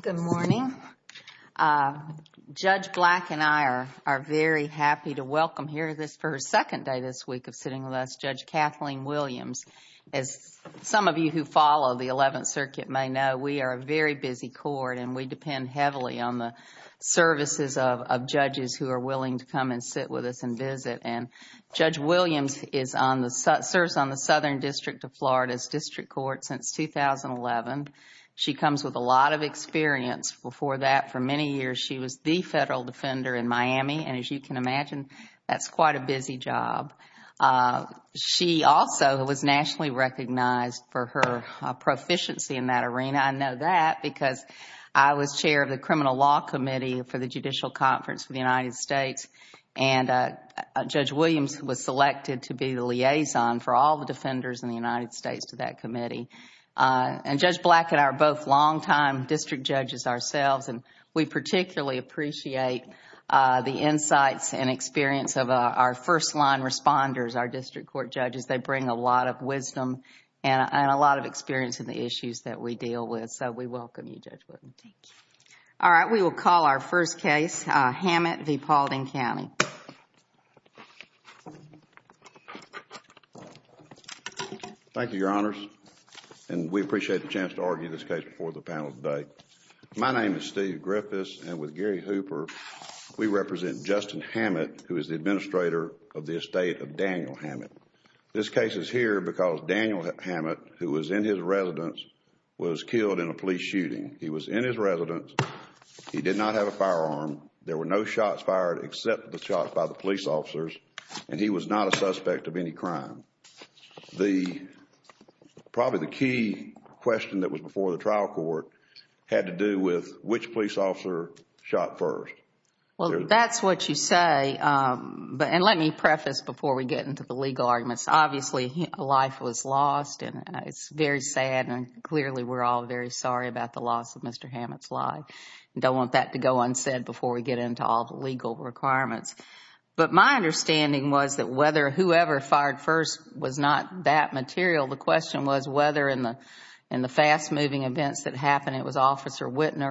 Good morning. Judge Black and I are very happy to welcome here for her second day this week of sitting with us Judge Kathleen Williams. As some of you who follow the Eleventh Circuit may know, we are a very busy court and we depend heavily on the services of judges who are willing to come and sit with us and visit. Judge Williams serves on the Southern District of Florida's District Court since 2011. She comes with a lot of experience. Before that, for many years, she was the federal defender in Miami and as you can imagine, that's quite a busy job. She also was nationally recognized for her proficiency in that arena. I know that because I was chair of the Criminal Law Committee for the Judicial Conference for the United States. Judge Williams was selected to be the liaison for all the defenders in the United States to that committee. Judge Black and I are both longtime district judges ourselves. We particularly appreciate the insights and experience of our first-line responders, our district court judges. They bring a lot of wisdom and a lot of experience in the issues that we deal with. We welcome you, Judge Williams. We will call our first case, Hammett v. Paulding County. Thank you, Your Honors. We appreciate the chance to argue this case before the panel today. My name is Steve Griffiths and with Gary Hooper, we represent Justin Hammett, who is the administrator of the estate of Daniel Hammett. This case is here because Daniel Hammett, who was in his residence, was killed in a police shooting. He was in his residence. He did not have a firearm. There were no shots fired except the shots by the police officers and he was not a suspect of any crime. Probably the key question that was before the trial court had to do with which police officer shot first. That is what you say. Let me preface before we get into the legal arguments. Obviously, life was lost and it is very sad. Clearly, we are all very sorry about the loss of Mr. Hammett's life. I don't want that to go unsaid before we get into all the legal requirements. My understanding was that whoever fired first was not that material. The question was whether in the fast-moving events that happened, it was Officer Wittner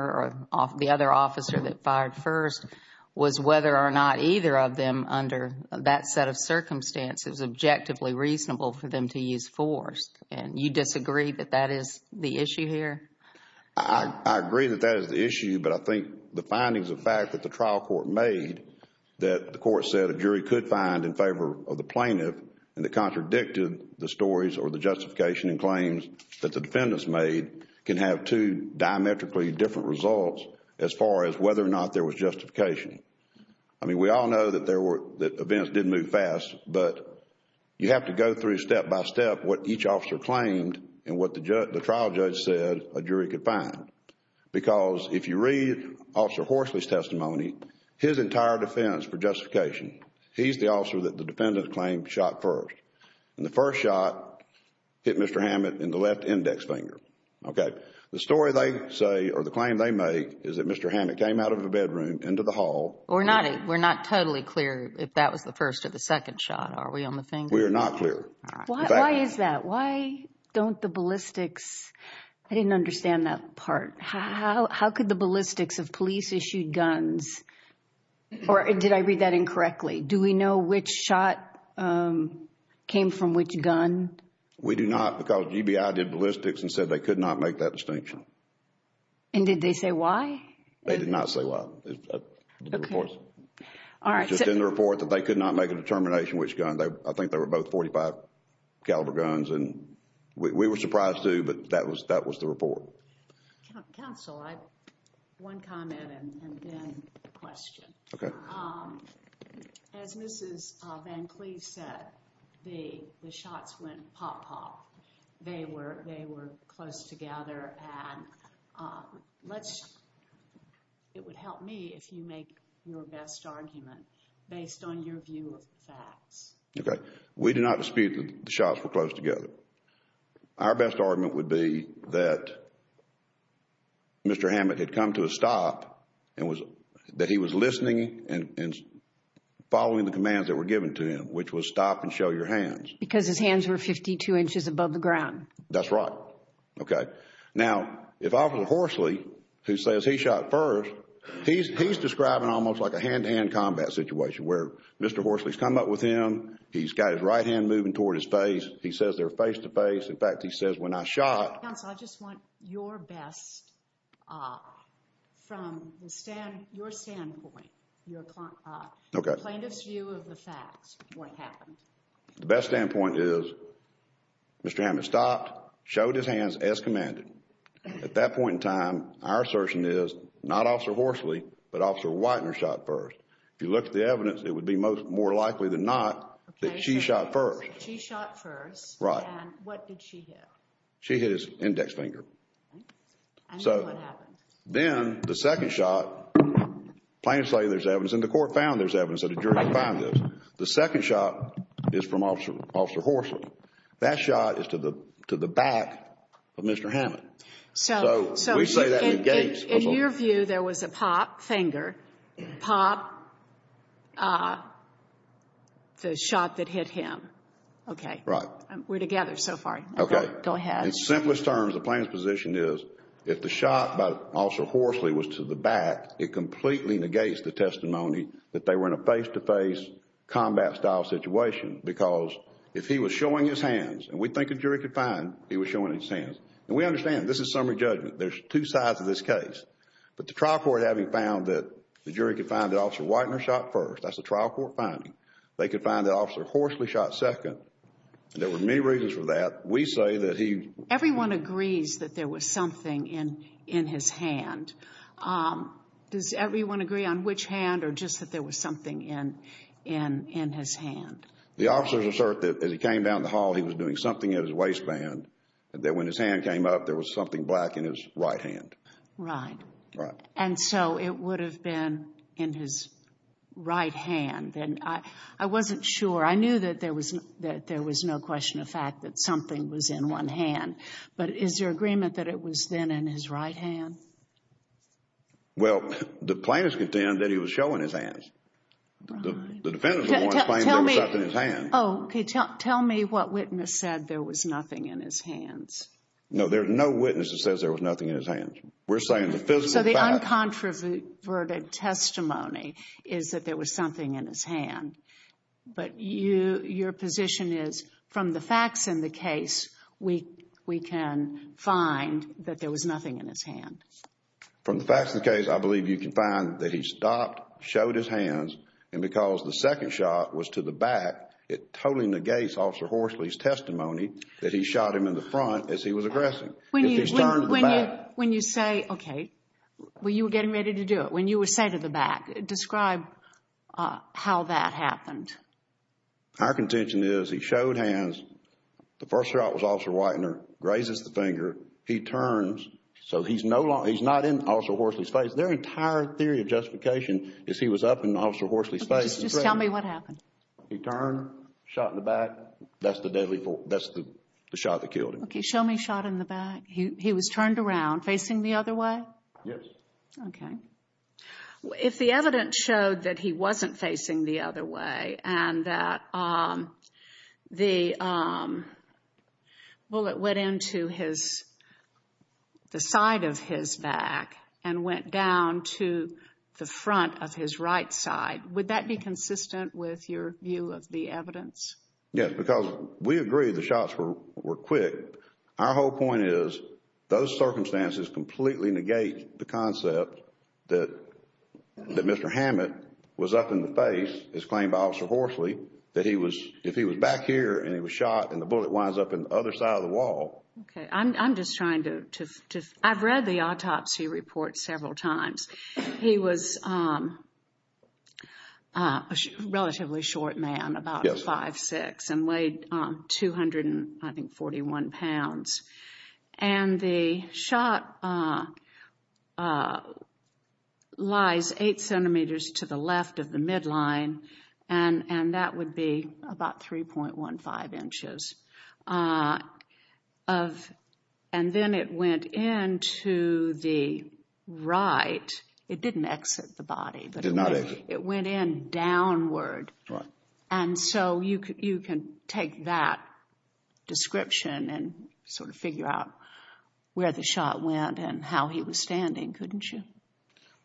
or the other officer that fired first, was whether or not either of them, under that set of circumstances, was objectively reasonable for them to use force. You disagree that that is the issue here? I agree that that is the issue, but I think the findings of fact that the trial court made, that the court said a jury could find in favor of the plaintiff, and that contradicted the stories or the justification and claims that the defendants made, can have two diametrically different results as far as whether or not there was justification. I mean, we all know that events did move fast, but you have to go through step-by-step what each officer claimed and what the trial judge said a jury could find. Because if you read Officer Horsley's testimony, his entire defense for justification, he's the officer that the defendant claimed shot first. And the first shot hit Mr. Hammett in the left index finger. Okay. The story they say or the claim they make is that Mr. Hammett came out of the bedroom into the hall. We're not totally clear if that was the first or the second shot. Are we on the finger? We are not clear. Why is that? Why don't the ballistics, I didn't understand that part. How could the ballistics of police-issued guns, or did I read that incorrectly? Do we know which shot came from which gun? We do not because GBI did ballistics and said they could not make that distinction. And did they say why? They did not say why. Okay. It's just in the report that they could not make a determination which gun. I think they were both .45 caliber guns. And we were surprised too, but that was the report. Counsel, I have one comment and then a question. Okay. As Mrs. Van Cleve said, the shots went pop, pop. They were close together. It would help me if you make your best argument based on your view of the facts. Okay. We do not dispute that the shots were close together. Our best argument would be that Mr. Hammett had come to a stop, that he was listening and following the commands that were given to him, which was stop and show your hands. Because his hands were 52 inches above the ground. That's right. Okay. Now, if Officer Horsley, who says he shot first, he's describing almost like a hand-to-hand combat situation where Mr. Horsley's come up with him. He's got his right hand moving toward his face. He says they're face-to-face. In fact, he says when I shot... Counsel, I just want your best from your standpoint, your plaintiff's view of the facts, what happened. The best standpoint is Mr. Hammett stopped, showed his hands as commanded. At that point in time, our assertion is not Officer Horsley, but Officer Whitener shot first. If you look at the evidence, it would be more likely than not that she shot first. She shot first. Right. And what did she hit? She hit his index finger. So then the second shot, plaintiff's lady, there's evidence, and the court found there's evidence that a jury could find this. The second shot is from Officer Horsley. That shot is to the back of Mr. Hammett. So we say that negates... In your view, there was a pop finger, pop, the shot that hit him. Okay. Right. We're together so far. Okay. Go ahead. In simplest terms, the plaintiff's position is if the shot by Officer Horsley was to the back, it completely negates the testimony that they were in a face-to-face combat-style situation because if he was showing his hands, and we think a jury could find he was showing his hands, and we understand this is summary judgment. There's two sides of this case. But the trial court having found that the jury could find that Officer Whitener shot first, that's a trial court finding, they could find that Officer Horsley shot second, and there were many reasons for that, we say that he... Does everyone agree on which hand or just that there was something in his hand? The officers assert that as he came down the hall, he was doing something in his waistband, that when his hand came up, there was something black in his right hand. Right. Right. And so it would have been in his right hand. And I wasn't sure. I knew that there was no question of fact that something was in one hand. But is there agreement that it was then in his right hand? Well, the plaintiffs contend that he was showing his hands. Right. The defendants want to claim there was something in his hand. Oh, okay. Tell me what witness said there was nothing in his hands. No, there's no witness that says there was nothing in his hands. We're saying the physical fact... So the uncontroverted testimony is that there was something in his hand. But your position is from the facts in the case, we can find that there was nothing in his hand. From the facts in the case, I believe you can find that he stopped, showed his hands, and because the second shot was to the back, it totally negates Officer Horsley's testimony that he shot him in the front as he was aggressing. When you say... okay. Well, you were getting ready to do it. When you say to the back, describe how that happened. Our contention is he showed hands. The first shot was Officer Whitener. Grazes the finger. He turns. So he's not in Officer Horsley's face. Their entire theory of justification is he was up in Officer Horsley's face. Just tell me what happened. He turned, shot in the back. That's the deadly... that's the shot that killed him. Okay. Show me shot in the back. He was turned around. Facing the other way? Yes. Okay. If the evidence showed that he wasn't facing the other way and that the bullet went into his... the side of his back and went down to the front of his right side, would that be consistent with your view of the evidence? Yes, because we agree the shots were quick. Our whole point is those circumstances completely negate the concept that Mr. Hammett was up in the face, as claimed by Officer Horsley, that if he was back here and he was shot and the bullet winds up in the other side of the wall... Okay. I'm just trying to... I've read the autopsy report several times. He was a relatively short man, about 5'6", and weighed, I think, 241 pounds. And the shot lies 8 centimeters to the left of the midline, and that would be about 3.15 inches. And then it went into the right. It didn't exit the body. It did not exit. It went in downward. Right. And so you can take that description and sort of figure out where the shot went and how he was standing, couldn't you?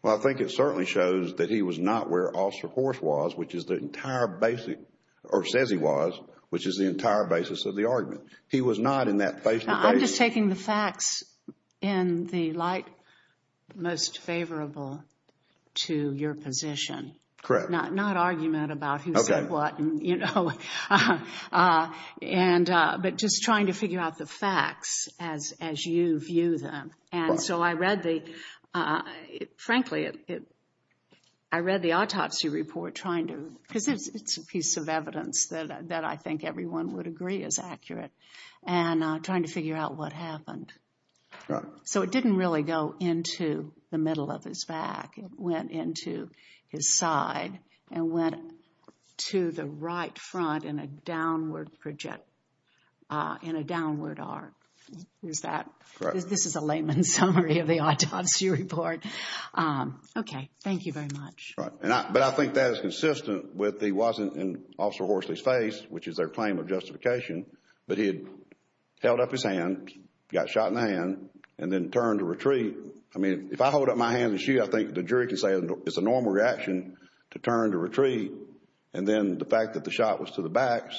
Well, I think it certainly shows that he was not where Officer Horse was, which is the entire basic... or says he was, which is the entire basis of the argument. He was not in that face-to-face... I'm just taking the facts in the light most favorable to your position. Correct. Not argument about who said what, you know. But just trying to figure out the facts as you view them. And so I read the... frankly, I read the autopsy report trying to... because it's a piece of evidence that I think everyone would agree is accurate, and trying to figure out what happened. So it didn't really go into the middle of his back. It went into his side and went to the right front in a downward project... in a downward arc. Is that... This is a layman's summary of the autopsy report. Okay. Thank you very much. But I think that is consistent with he wasn't in Officer Horsley's face, which is their claim of justification, but he had held up his hand, got shot in the hand, and then turned to retreat. I mean, if I hold up my hand and shoot, I think the jury can say it's a normal reaction to turn to retreat. And then the fact that the shot was to the back,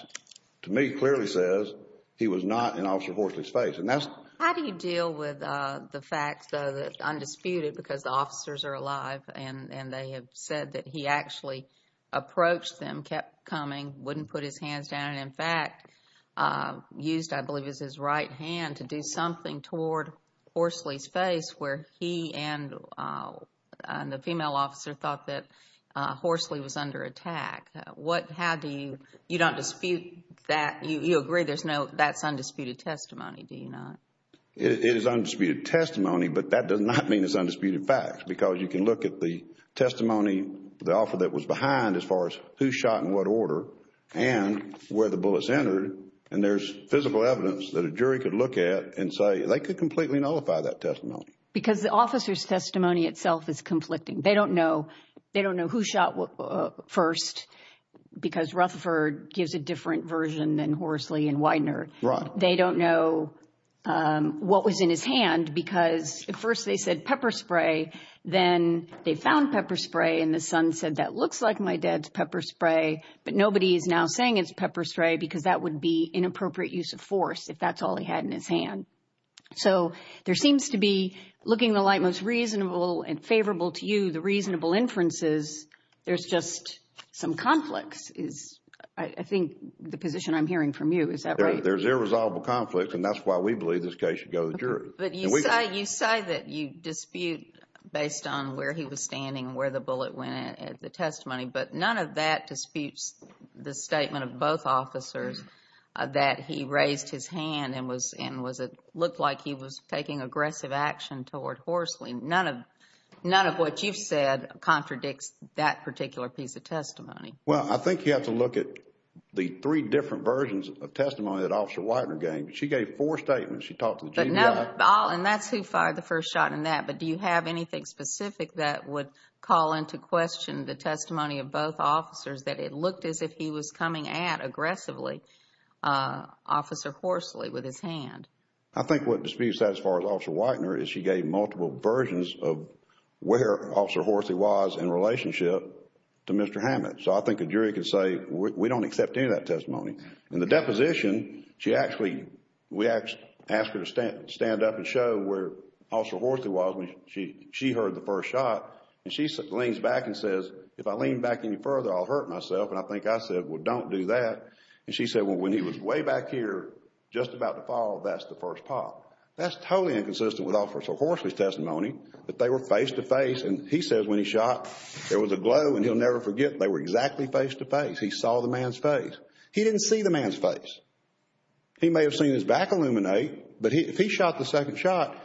to me, clearly says he was not in Officer Horsley's face. And that's... How do you deal with the fact, though, that it's undisputed because the officers are alive and they have said that he actually approached them, kept coming, wouldn't put his hands down, and, in fact, used, I believe, his right hand to do something toward Horsley's face where he and the female officer thought that Horsley was under attack? How do you... You don't dispute that. You agree there's no... That's undisputed testimony, do you not? It is undisputed testimony, but that does not mean it's undisputed facts because you can look at the testimony, the offer that was behind, as far as who shot in what order and where the bullets entered, and there's physical evidence that a jury could look at and say, they could completely nullify that testimony. Because the officer's testimony itself is conflicting. They don't know who shot first because Rutherford gives a different version than Horsley and Widener. Right. They don't know what was in his hand because at first they said pepper spray. Then they found pepper spray and the son said, that looks like my dad's pepper spray, but nobody is now saying it's pepper spray because that would be inappropriate use of force if that's all he had in his hand. So there seems to be, looking the light most reasonable and favorable to you, the reasonable inferences, there's just some conflicts, is I think the position I'm hearing from you. Is that right? There's irresolvable conflicts, and that's why we believe this case should go to the jury. But you say that you dispute based on where he was standing and where the bullet went at the testimony, but none of that disputes the statement of both officers that he raised his hand and looked like he was taking aggressive action toward Horsley. None of what you've said contradicts that particular piece of testimony. Well, I think you have to look at the three different versions of testimony that Officer Widener gave. She gave four statements. She talked to the GBI. And that's who fired the first shot in that. But do you have anything specific that would call into question the testimony of both officers that it looked as if he was coming at aggressively Officer Horsley with his hand? I think what disputes that as far as Officer Widener is she gave multiple versions of where Officer Horsley was in relationship to Mr. Hammett. So I think the jury can say we don't accept any of that testimony. In the deposition, we asked her to stand up and show where Officer Horsley was when she heard the first shot. And she leans back and says, if I lean back any further, I'll hurt myself. And I think I said, well, don't do that. And she said, well, when he was way back here just about to fall, that's the first pop. That's totally inconsistent with Officer Horsley's testimony, that they were face-to-face. And he says when he shot, there was a glow, and he'll never forget, they were exactly face-to-face. He saw the man's face. He didn't see the man's face. He may have seen his back illuminate, but if he shot the second shot,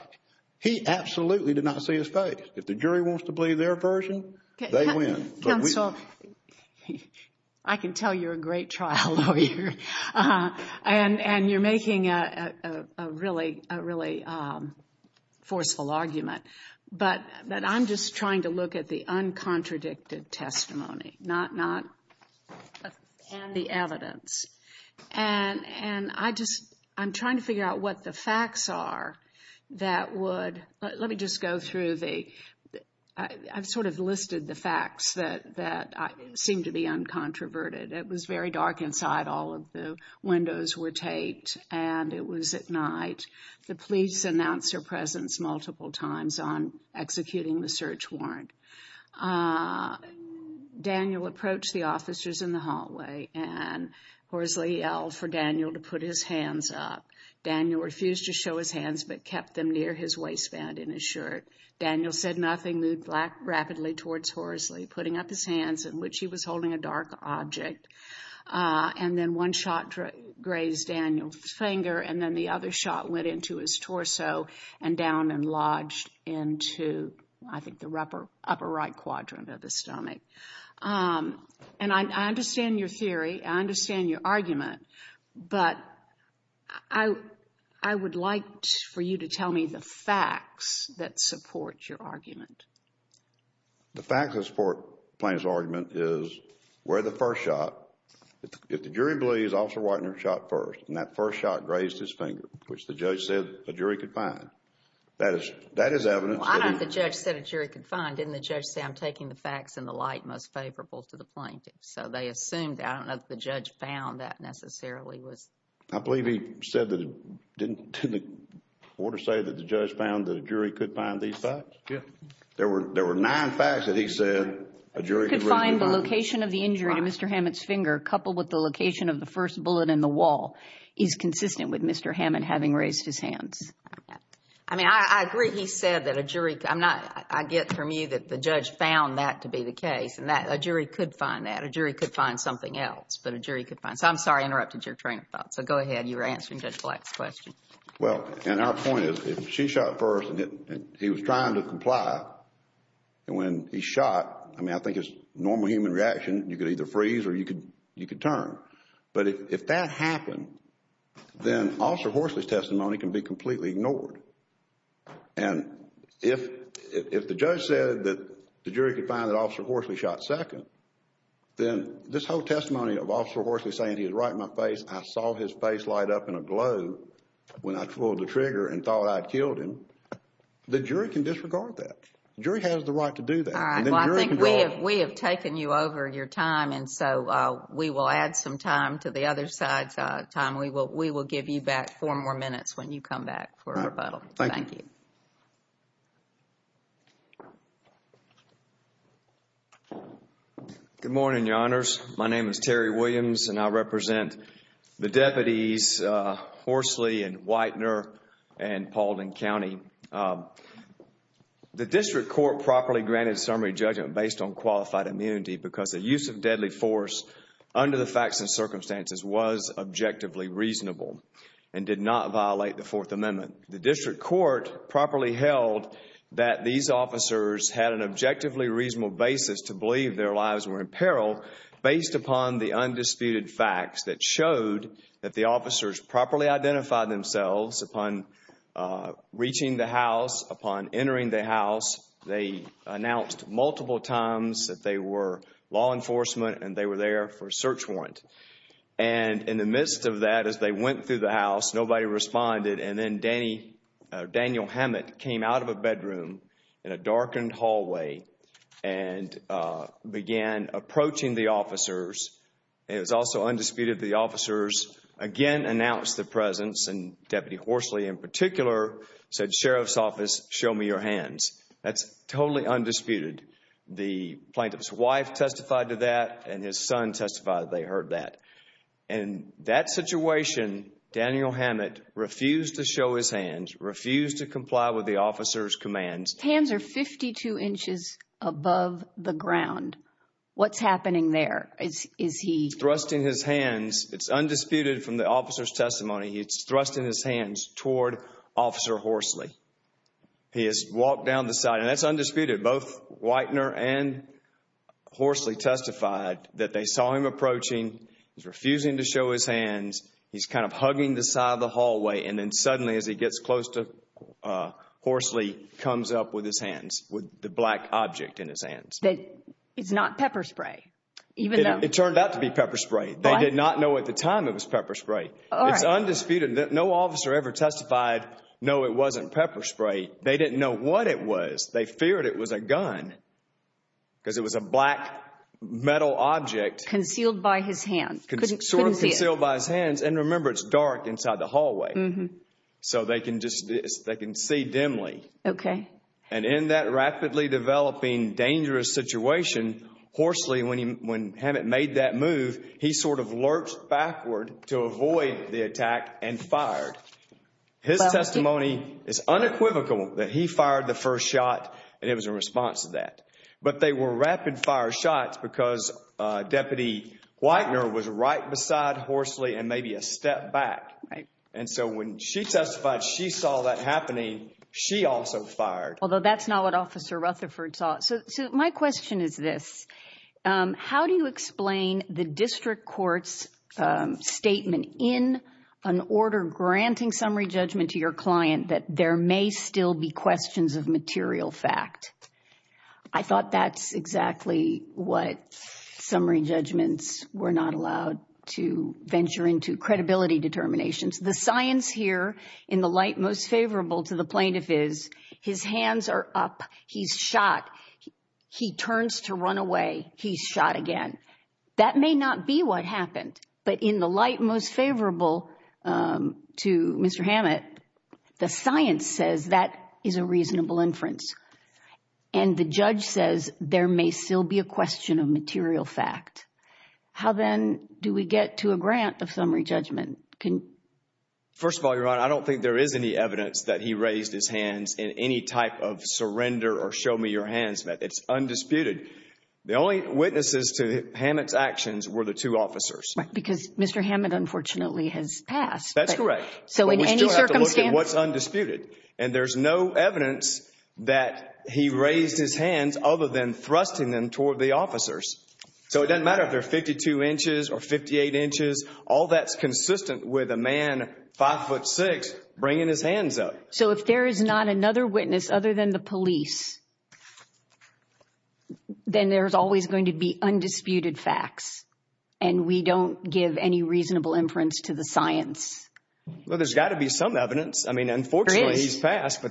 he absolutely did not see his face. If the jury wants to believe their version, they win. Counsel, I can tell you're a great trial lawyer. And you're making a really, really forceful argument. But I'm just trying to look at the uncontradicted testimony, not the evidence. And I'm trying to figure out what the facts are that would – let me just go through the – I've sort of listed the facts that seem to be uncontroverted. It was very dark inside. All of the windows were taped, and it was at night. The police announced her presence multiple times on executing the search warrant. Daniel approached the officers in the hallway, and Horsley yelled for Daniel to put his hands up. Daniel refused to show his hands but kept them near his waistband in his shirt. Daniel said nothing, moved rapidly towards Horsley, putting up his hands in which he was holding a dark object. And then one shot grazed Daniel's finger, and then the other shot went into his torso and down and lodged into, I think, the upper right quadrant of his stomach. And I understand your theory. I understand your argument. But I would like for you to tell me the facts that support your argument. The facts that support Plaintiff's argument is where the first shot – if the jury believes Officer Watner shot first, and that first shot grazed his finger, which the judge said a jury could find. That is evidence. Well, I don't know if the judge said a jury could find. Didn't the judge say, I'm taking the facts in the light most favorable to the plaintiff? So they assumed that. I don't know if the judge found that necessarily. I believe he said that – didn't the order say that the judge found that a jury could find these facts? Yes. There were nine facts that he said a jury could find. He could find the location of the injury to Mr. Hammond's finger, coupled with the location of the first bullet in the wall, is consistent with Mr. Hammond having raised his hands. I mean, I agree he said that a jury – I'm not – I get from you that the judge found that to be the case. And that a jury could find that. A jury could find something else. But a jury could find – so I'm sorry I interrupted your train of thought. So go ahead. You were answering Judge Black's question. Well, and our point is if she shot first and he was trying to comply, and when he shot, I mean, I think it's normal human reaction. You could either freeze or you could turn. But if that happened, then Officer Horsley's testimony can be completely ignored. And if the judge said that the jury could find that Officer Horsley shot second, then this whole testimony of Officer Horsley saying he was right in my face, I saw his face light up in a glow when I pulled the trigger and thought I had killed him, the jury can disregard that. The jury has the right to do that. All right. Well, I think we have taken you over your time, and so we will add some time to the other side's time. We will give you back four more minutes when you come back for rebuttal. All right. Thank you. Good morning, Your Honors. My name is Terry Williams, and I represent the deputies Horsley and Whitener and Pauldin County. The district court properly granted summary judgment based on qualified immunity because the use of deadly force under the facts and circumstances was objectively reasonable and did not violate the Fourth Amendment. The district court properly held that these officers had an objectively reasonable basis to believe their lives were in peril based upon the undisputed facts that showed that the officers properly identified themselves upon reaching the house, upon entering the house. They announced multiple times that they were law enforcement and they were there for a search warrant. And in the midst of that, as they went through the house, nobody responded, and then Daniel Hammett came out of a bedroom in a darkened hallway and began approaching the officers. It was also undisputed that the officers again announced their presence, and Deputy Horsley in particular said, Sheriff's Office, show me your hands. That's totally undisputed. The plaintiff's wife testified to that, and his son testified that they heard that. In that situation, Daniel Hammett refused to show his hands, refused to comply with the officers' commands. Hands are 52 inches above the ground. What's happening there? He's thrusting his hands. It's undisputed from the officer's testimony. He's thrusting his hands toward Officer Horsley. He has walked down the side, and that's undisputed. Both Whitener and Horsley testified that they saw him approaching. He's refusing to show his hands. He's kind of hugging the side of the hallway, and then suddenly as he gets close to Horsley, comes up with his hands, with the black object in his hands. It's not pepper spray. It turned out to be pepper spray. They did not know at the time it was pepper spray. It's undisputed. No officer ever testified, no, it wasn't pepper spray. They didn't know what it was. They feared it was a gun because it was a black metal object. Concealed by his hands. Sort of concealed by his hands, and remember, it's dark inside the hallway, so they can see dimly. Okay. And in that rapidly developing, dangerous situation, Horsley, when Hammett made that move, he sort of lurched backward to avoid the attack and fired. His testimony is unequivocal that he fired the first shot, and it was in response to that. But they were rapid-fire shots because Deputy Whitener was right beside Horsley and maybe a step back. And so when she testified she saw that happening, she also fired. Although that's not what Officer Rutherford saw. So my question is this. How do you explain the district court's statement in an order granting summary judgment to your client that there may still be questions of material fact? I thought that's exactly what summary judgments were not allowed to venture into credibility determinations. The science here in the light most favorable to the plaintiff is his hands are up, he's shot, he turns to run away, he's shot again. That may not be what happened. But in the light most favorable to Mr. Hammett, the science says that is a reasonable inference. And the judge says there may still be a question of material fact. How then do we get to a grant of summary judgment? First of all, Your Honor, I don't think there is any evidence that he raised his hands in any type of surrender or show me your hands. It's undisputed. The only witnesses to Hammett's actions were the two officers. Because Mr. Hammett unfortunately has passed. That's correct. So in any circumstance. But we still have to look at what's undisputed. And there's no evidence that he raised his hands other than thrusting them toward the officers. So it doesn't matter if they're 52 inches or 58 inches. All that's consistent with a man, 5'6", bringing his hands up. So if there is not another witness other than the police, then there's always going to be undisputed facts. And we don't give any reasonable inference to the science. Well, there's got to be some evidence. I mean, unfortunately he's passed.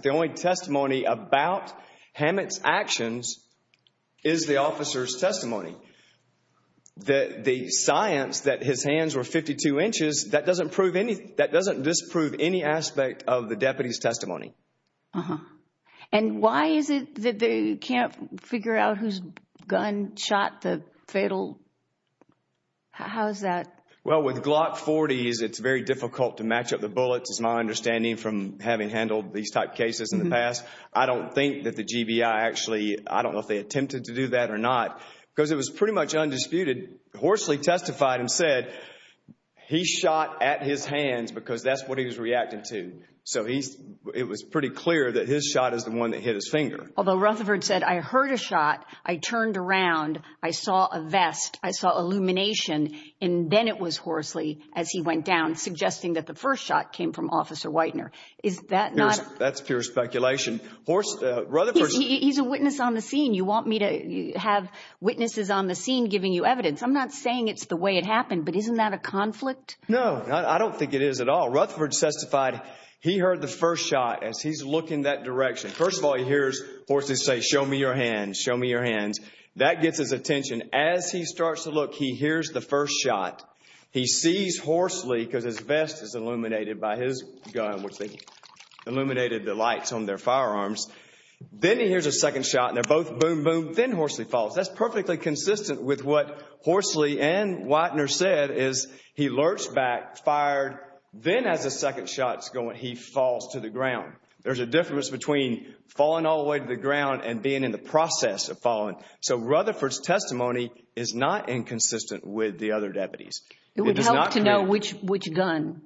The science that his hands were 52 inches, that doesn't disprove any aspect of the deputy's testimony. Uh-huh. And why is it that they can't figure out whose gun shot the fatal? How is that? Well, with Glock 40s, it's very difficult to match up the bullets, is my understanding from having handled these type cases in the past. I don't think that the GBI actually, I don't know if they attempted to do that or not. Because it was pretty much undisputed. Horsley testified and said he shot at his hands because that's what he was reacting to. So it was pretty clear that his shot is the one that hit his finger. Although Rutherford said, I heard a shot. I turned around. I saw a vest. I saw illumination. And then it was Horsley as he went down, suggesting that the first shot came from Officer Whitener. Is that not? That's pure speculation. He's a witness on the scene. You want me to have witnesses on the scene giving you evidence. I'm not saying it's the way it happened, but isn't that a conflict? No, I don't think it is at all. Rutherford testified he heard the first shot as he's looking that direction. First of all, he hears Horsley say, show me your hands, show me your hands. That gets his attention. As he starts to look, he hears the first shot. He sees Horsley because his vest is illuminated by his gun, which they illuminated the lights on their firearms. Then he hears a second shot, and they're both boom, boom. Then Horsley falls. That's perfectly consistent with what Horsley and Whitener said, is he lurched back, fired. Then as the second shot is going, he falls to the ground. There's a difference between falling all the way to the ground and being in the process of falling. So Rutherford's testimony is not inconsistent with the other deputies. It would help to know which gun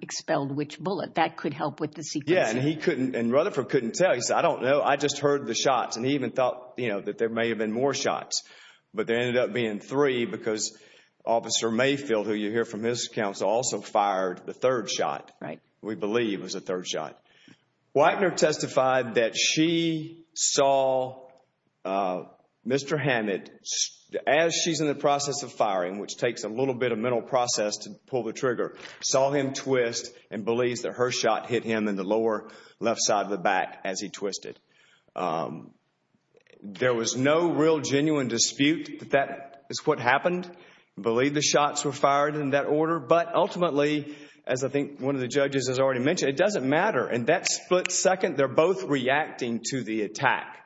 expelled which bullet. That could help with the sequencing. Yeah, and Rutherford couldn't tell. He said, I don't know. I just heard the shots. He even thought that there may have been more shots, but there ended up being three because Officer Mayfield, who you hear from his counsel, also fired the third shot, we believe was the third shot. Whitener testified that she saw Mr. Hammett, as she's in the process of firing, which takes a little bit of mental process to pull the trigger, saw him twist and believes that her shot hit him in the lower left side of the back as he twisted. There was no real genuine dispute that that is what happened. We believe the shots were fired in that order. But ultimately, as I think one of the judges has already mentioned, it doesn't matter. In that split second, they're both reacting to the attack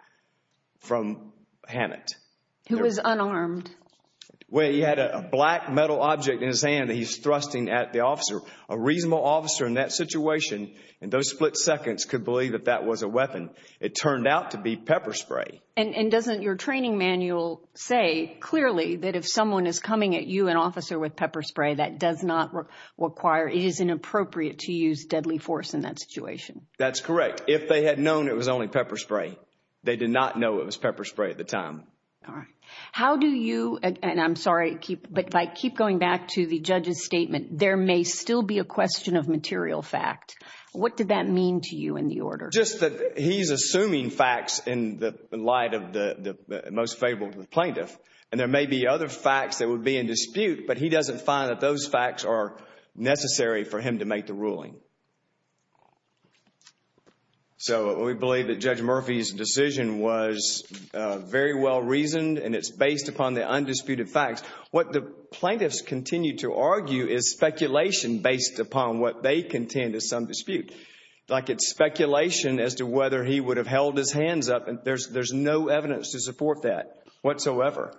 from Hammett. Who was unarmed. Well, he had a black metal object in his hand that he's thrusting at the officer. A reasonable officer in that situation in those split seconds could believe that that was a weapon. It turned out to be pepper spray. And doesn't your training manual say clearly that if someone is coming at you, an officer, with pepper spray, that does not require, it is inappropriate to use deadly force in that situation. That's correct. If they had known it was only pepper spray, they did not know it was pepper spray at the time. All right. How do you, and I'm sorry, but if I keep going back to the judge's statement, there may still be a question of material fact. What did that mean to you in the order? Just that he's assuming facts in light of the most favorable plaintiff. And there may be other facts that would be in dispute, but he doesn't find that those facts are necessary for him to make the ruling. So we believe that Judge Murphy's decision was very well reasoned and it's based upon the undisputed facts. What the plaintiffs continue to argue is speculation based upon what they contend is some dispute. Like it's speculation as to whether he would have held his hands up. There's no evidence to support that whatsoever.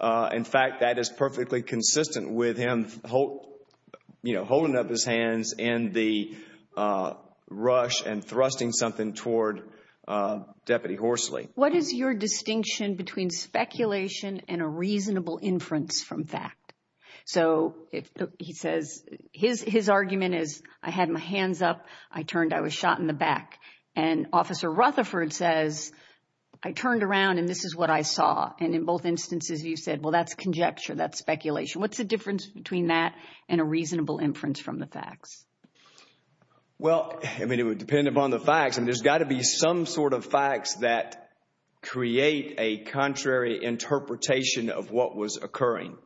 In fact, that is perfectly consistent with him holding up his hands and the rush and thrusting something toward Deputy Horsley. What is your distinction between speculation and a reasonable inference from fact? So he says his argument is, I had my hands up, I turned, I was shot in the back. And Officer Rutherford says, I turned around and this is what I saw. And in both instances you said, well, that's conjecture, that's speculation. What's the difference between that and a reasonable inference from the facts? Well, I mean, it would depend upon the facts. I mean, there's got to be some sort of facts that create a contrary interpretation of what was occurring.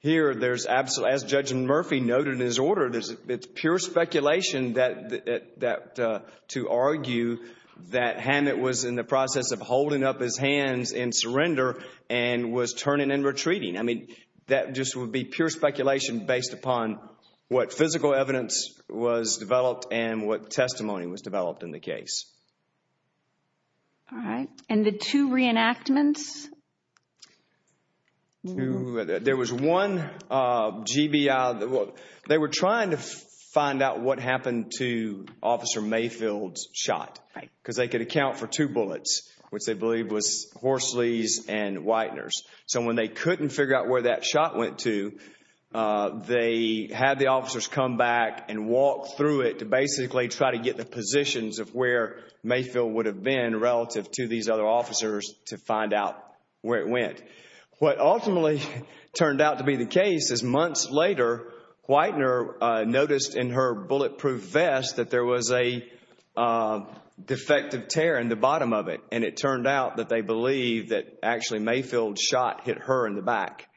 Here, as Judge Murphy noted in his order, it's pure speculation to argue that Hammett was in the process of holding up his hands in surrender and was turning and retreating. I mean, that just would be pure speculation based upon what physical evidence was developed and what testimony was developed in the case. All right. And the two reenactments? There was one GBI. They were trying to find out what happened to Officer Mayfield's shot because they could account for two bullets, which they believed was Horsley's and Whitener's. So when they couldn't figure out where that shot went to, they had the officers come back and walk through it to basically try to get the positions of where Mayfield would have been relative to these other officers to find out where it went. What ultimately turned out to be the case is months later, Whitener noticed in her bulletproof vest that there was a defective tear in the bottom of it, and it turned out that they believed that actually Mayfield's shot hit her in the back,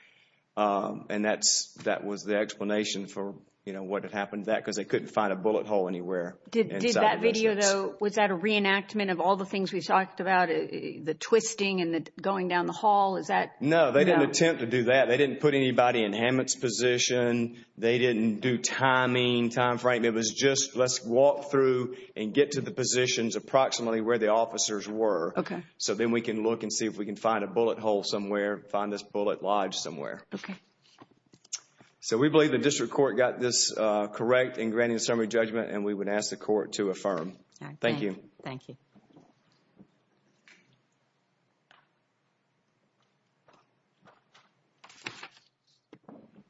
and that was the explanation for what had happened to that because they couldn't find a bullet hole anywhere. Did that video, though, was that a reenactment of all the things we've talked about, the twisting and going down the hall? No, they didn't attempt to do that. They didn't put anybody in Hammett's position. They didn't do timing, time frame. It was just let's walk through and get to the positions approximately where the officers were so then we can look and see if we can find a bullet hole somewhere, find this bullet lodged somewhere. Okay. So we believe the district court got this correct in granting the summary judgment, and we would ask the court to affirm. Thank you. Thank you. Thank you.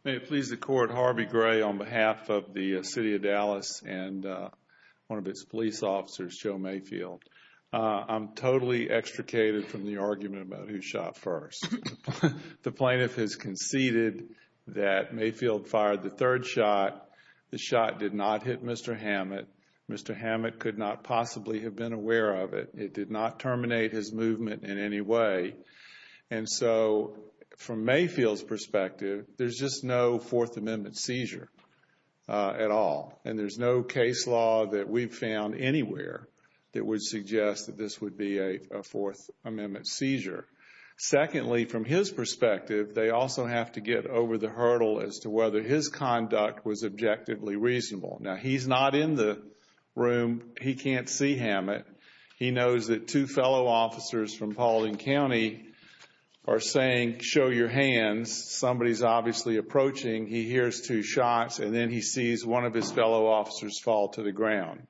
May it please the court, Harvey Gray on behalf of the city of Dallas and one of its police officers, Joe Mayfield. I'm totally extricated from the argument about who shot first. The plaintiff has conceded that Mayfield fired the third shot. The shot did not hit Mr. Hammett. Mr. Hammett could not possibly have been aware of it. It did not terminate his movement in any way. And so from Mayfield's perspective, there's just no Fourth Amendment seizure at all, and there's no case law that we've found anywhere that would suggest that this would be a Fourth Amendment seizure. Secondly, from his perspective, they also have to get over the hurdle as to whether his conduct was objectively reasonable. Now, he's not in the room. He can't see Hammett. He knows that two fellow officers from Paulding County are saying, show your hands. Somebody's obviously approaching. He hears two shots, and then he sees one of his fellow officers fall to the ground.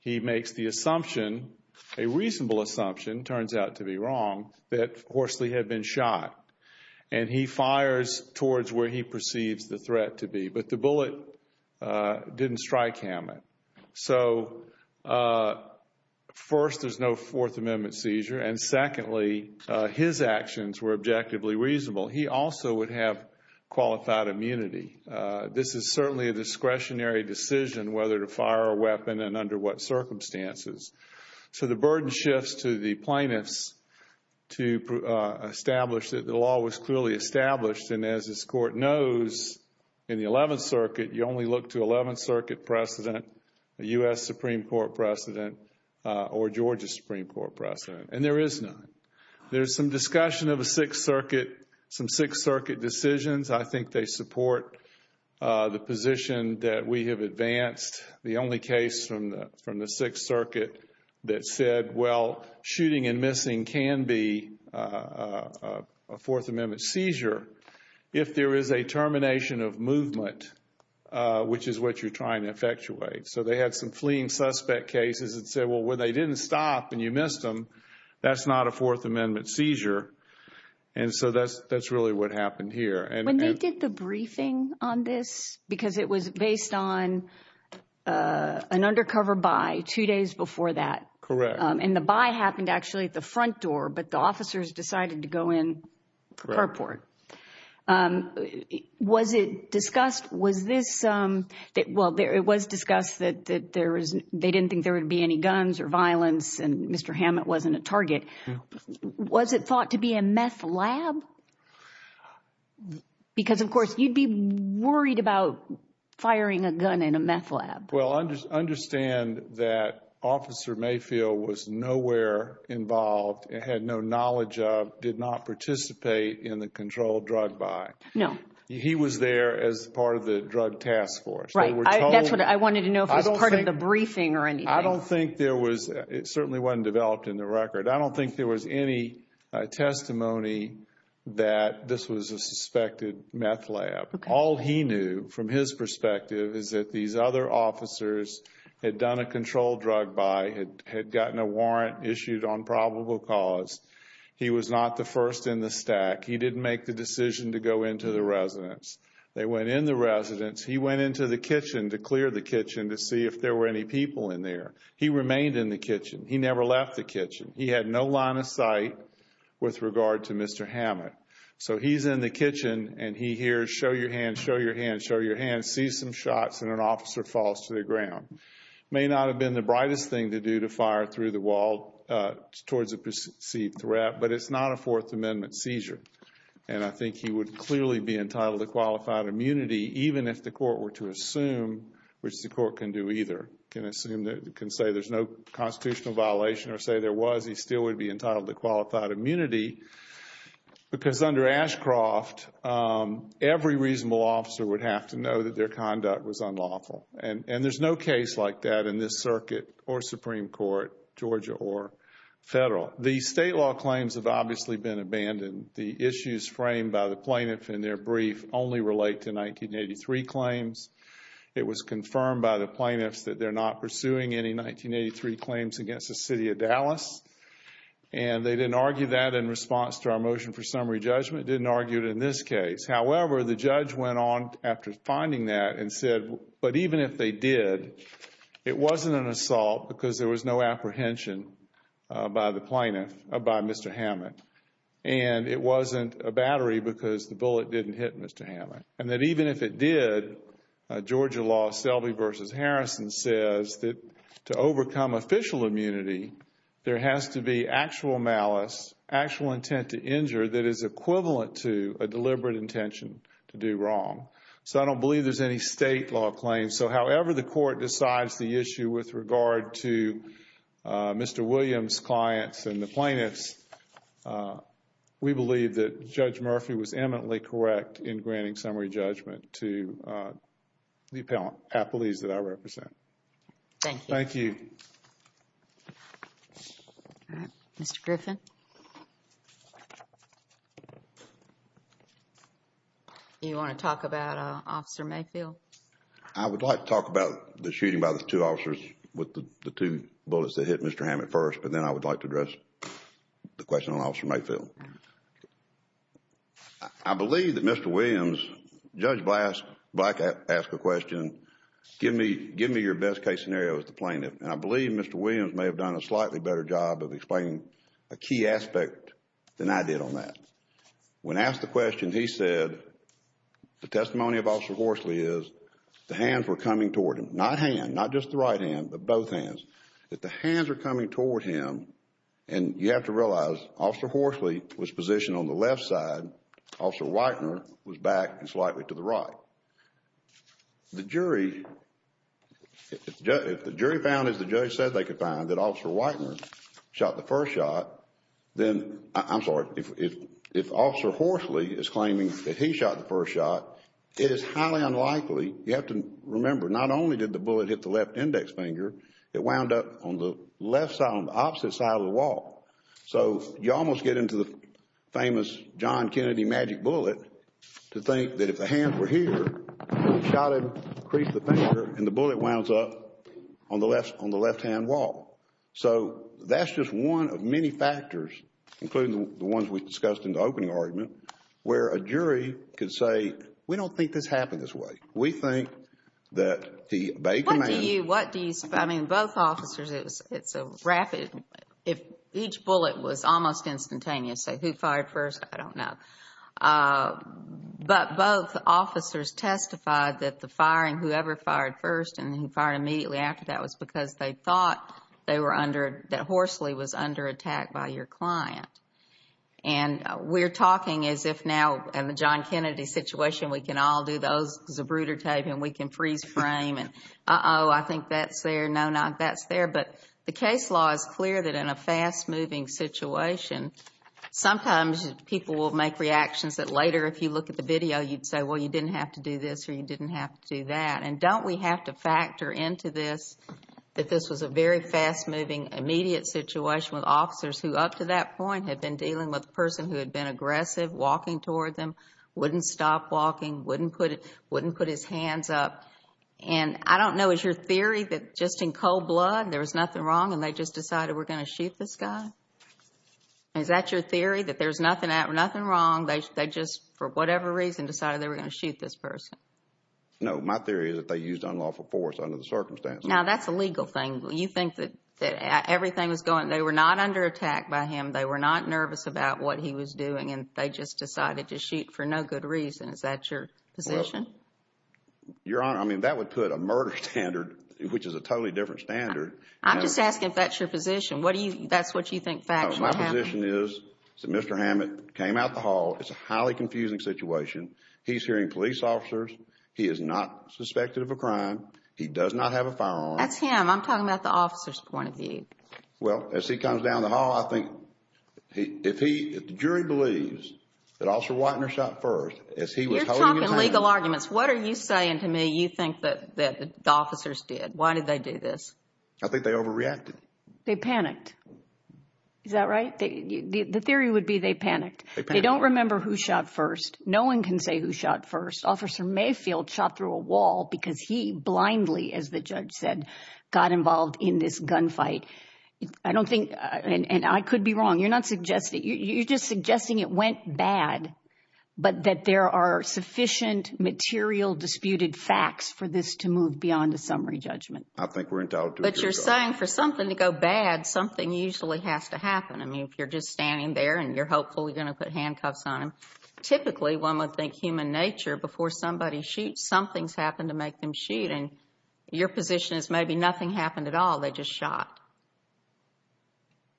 He makes the assumption, a reasonable assumption, turns out to be wrong, that Horsley had been shot. And he fires towards where he perceives the threat to be. But the bullet didn't strike Hammett. So first, there's no Fourth Amendment seizure. And secondly, his actions were objectively reasonable. He also would have qualified immunity. This is certainly a discretionary decision whether to fire a weapon and under what circumstances. So the burden shifts to the plaintiffs to establish that the law was clearly established. And as this Court knows, in the Eleventh Circuit, you only look to Eleventh Circuit precedent, the U.S. Supreme Court precedent, or Georgia Supreme Court precedent. And there is none. There's some discussion of a Sixth Circuit, some Sixth Circuit decisions. I think they support the position that we have advanced. The only case from the Sixth Circuit that said, well, shooting and missing can be a Fourth Amendment seizure if there is a termination of movement, which is what you're trying to effectuate. So they had some fleeing suspect cases that said, well, when they didn't stop and you missed them, that's not a Fourth Amendment seizure. And so that's really what happened here. When they did the briefing on this, because it was based on an undercover buy two days before that. Correct. And the buy happened actually at the front door, but the officers decided to go in the carport. Correct. Was it discussed, was this, well, it was discussed that they didn't think there would be any guns or violence and Mr. Hammett wasn't a target. Was it thought to be a meth lab? Because, of course, you'd be worried about firing a gun in a meth lab. Well, understand that Officer Mayfield was nowhere involved, had no knowledge of, did not participate in the controlled drug buy. No. He was there as part of the drug task force. That's what I wanted to know if it was part of the briefing or anything. I don't think there was, it certainly wasn't developed in the record, I don't think there was any testimony that this was a suspected meth lab. All he knew from his perspective is that these other officers had done a controlled drug buy, had gotten a warrant issued on probable cause. He was not the first in the stack. He didn't make the decision to go into the residence. They went in the residence. He went into the kitchen to clear the kitchen to see if there were any people in there. He remained in the kitchen. He never left the kitchen. He had no line of sight with regard to Mr. Hammett. So he's in the kitchen and he hears, show your hand, show your hand, show your hand, sees some shots and an officer falls to the ground. It may not have been the brightest thing to do to fire through the wall towards a perceived threat, but it's not a Fourth Amendment seizure. And I think he would clearly be entitled to qualified immunity even if the court were to assume, which the court can do either, can assume, can say there's no constitutional violation or say there was, he still would be entitled to qualified immunity because under Ashcroft, every reasonable officer would have to know that their conduct was unlawful. And there's no case like that in this circuit or Supreme Court, Georgia or Federal. Well, the state law claims have obviously been abandoned. The issues framed by the plaintiff in their brief only relate to 1983 claims. It was confirmed by the plaintiffs that they're not pursuing any 1983 claims against the city of Dallas. And they didn't argue that in response to our motion for summary judgment, didn't argue it in this case. However, the judge went on after finding that and said, but even if they did, it wasn't an assault because there was no apprehension by the plaintiff, by Mr. Hammond. And it wasn't a battery because the bullet didn't hit Mr. Hammond. And that even if it did, Georgia law, Selby v. Harrison, says that to overcome official immunity, there has to be actual malice, actual intent to injure that is equivalent to a deliberate intention to do wrong. So I don't believe there's any state law claims. So however the court decides the issue with regard to Mr. Williams' clients and the plaintiffs, we believe that Judge Murphy was eminently correct in granting summary judgment to the appellees that I represent. Thank you. Thank you. Mr. Griffin. Do you want to talk about Officer Mayfield? I would like to talk about the shooting by the two officers with the two bullets that hit Mr. Hammond first, but then I would like to address the question on Officer Mayfield. I believe that Mr. Williams, Judge Black asked the question, give me your best case scenario with the plaintiff. And I believe Mr. Williams may have done a slightly better job of explaining a key aspect than I did on that. When asked the question, he said the testimony of Officer Horsley is the hands were coming toward him, not hand, not just the right hand, but both hands, that the hands are coming toward him and you have to realize Officer Horsley was positioned on the left side, Officer Weitner was back slightly to the right. The jury, if the jury found as the judge said they could find that Officer Weitner shot the first shot, then, I'm sorry, if Officer Horsley is claiming that he shot the first shot, it is highly unlikely, you have to remember, not only did the bullet hit the left index finger, it wound up on the left side, on the opposite side of the wall. So you almost get into the famous John Kennedy magic bullet to think that if the hands were here, it would have shot him, creased the finger, and the bullet wounds up on the left hand wall. So that's just one of many factors, including the ones we discussed in the opening argument, where a jury could say, we don't think this happened this way. We think that the Bay Command. What do you, what do you, I mean, both officers, it's a rapid, if each bullet was almost instantaneous, say who fired first, I don't know, but both officers testified that the firing, immediately after that was because they thought they were under, that Horsley was under attack by your client. And we're talking as if now, in the John Kennedy situation, we can all do those, there's a brooder tape, and we can freeze frame, and uh-oh, I think that's there, no, not that's there. But the case law is clear that in a fast-moving situation, sometimes people will make reactions that later, if you look at the video, you'd say, well, you didn't have to do this, or you didn't have to do that. And don't we have to factor into this that this was a very fast-moving, immediate situation with officers who up to that point had been dealing with a person who had been aggressive, walking toward them, wouldn't stop walking, wouldn't put his hands up. And I don't know, is your theory that just in cold blood, there was nothing wrong, and they just decided we're going to shoot this guy? Is that your theory, that there's nothing, nothing wrong, they just, for whatever reason, decided they were going to shoot this person? No, my theory is that they used unlawful force under the circumstances. Now, that's a legal thing. You think that everything was going, they were not under attack by him, they were not nervous about what he was doing, and they just decided to shoot for no good reason. Is that your position? Your Honor, I mean, that would put a murder standard, which is a totally different standard. I'm just asking if that's your position. What do you, that's what you think factually happened? My position is that Mr. Hammett came out the hall, it's a highly confusing situation, he's hearing police officers, he is not suspected of a crime, he does not have a firearm. That's him. I'm talking about the officer's point of view. Well, as he comes down the hall, I think, if he, if the jury believes that Officer Watner shot first, as he was holding him down. You're talking legal arguments. What are you saying to me you think that the officers did? Why did they do this? I think they overreacted. They panicked. Is that right? The theory would be they panicked. They panicked. I don't remember who shot first. No one can say who shot first. Officer Mayfield shot through a wall because he blindly, as the judge said, got involved in this gunfight. I don't think, and I could be wrong, you're not suggesting, you're just suggesting it went bad, but that there are sufficient material disputed facts for this to move beyond a summary judgment. I think we're in doubt. But you're saying for something to go bad, something usually has to happen. I mean, if you're just standing there and you're hopefully going to put handcuffs on him. Typically, one would think human nature. Before somebody shoots, something's happened to make them shoot, and your position is maybe nothing happened at all. They just shot.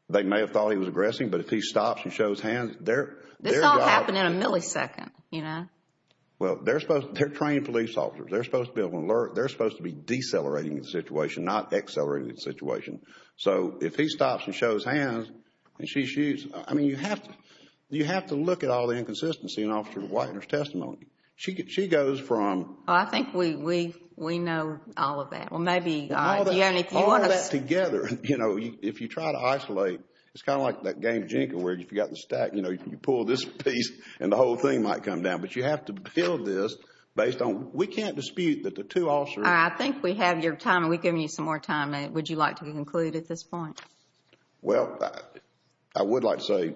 They may have thought he was aggressing, but if he stops and shows hands, their job... This all happened in a millisecond, you know. Well, they're supposed, they're trained police officers. They're supposed to be able to alert. They're supposed to be decelerating the situation, not accelerating the situation. So, if he stops and shows hands and she shoots... I mean, you have to look at all the inconsistency in Officer Whitener's testimony. She goes from... I think we know all of that. Well, maybe... All of that together. You know, if you try to isolate, it's kind of like that game of Jenga where if you've got the stack, you know, you pull this piece and the whole thing might come down. But you have to build this based on... We can't dispute that the two officers... All right, I think we have your time, and we've given you some more time. Would you like to conclude at this point? Well, I would like to say,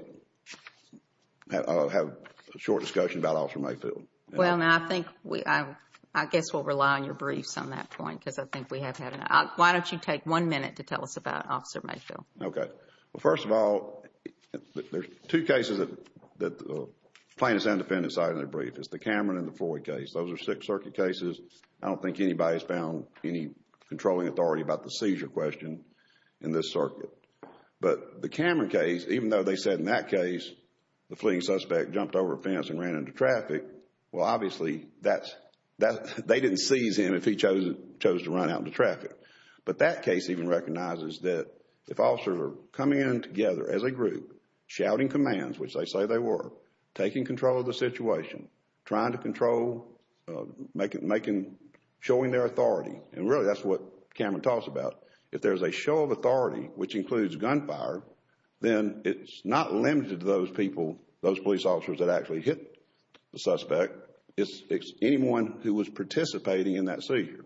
have a short discussion about Officer Mayfield. Well, now, I think we... I guess we'll rely on your briefs on that point because I think we have had enough. Why don't you take one minute to tell us about Officer Mayfield? Okay. Well, first of all, there's two cases that plaintiffs and defendants cited in their brief. It's the Cameron and the Floyd case. Those are Sixth Circuit cases. I don't think anybody's found any controlling authority about the seizure question in this circuit. But the Cameron case, even though they said in that case the fleeing suspect jumped over a fence and ran into traffic, well, obviously, that's... They didn't seize him if he chose to run out into traffic. But that case even recognizes that if officers are coming in together as a group, shouting commands, which they say they were, taking control of the situation, trying to control, showing their authority. And really, that's what Cameron talks about. If there's a show of authority, which includes gunfire, then it's not limited to those people, those police officers that actually hit the suspect. It's anyone who was participating in that seizure.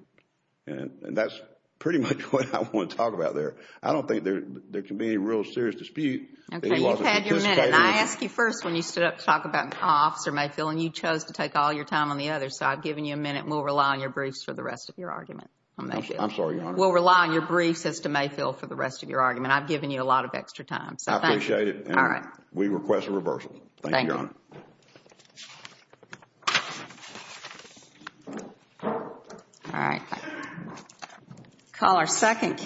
And that's pretty much what I want to talk about there. I don't think there can be any real serious dispute. Okay. You've had your minute. And I asked you first when you stood up to talk about Officer Mayfield, and you chose to take all your time on the other side. I've given you a minute, and we'll rely on your briefs for the rest of your argument on Mayfield. I'm sorry, Your Honor. We'll rely on your briefs as to Mayfield for the rest of your argument. I've given you a lot of extra time. I appreciate it. All right. We request a reversal. Thank you, Your Honor. Thank you. All right. Call our second case.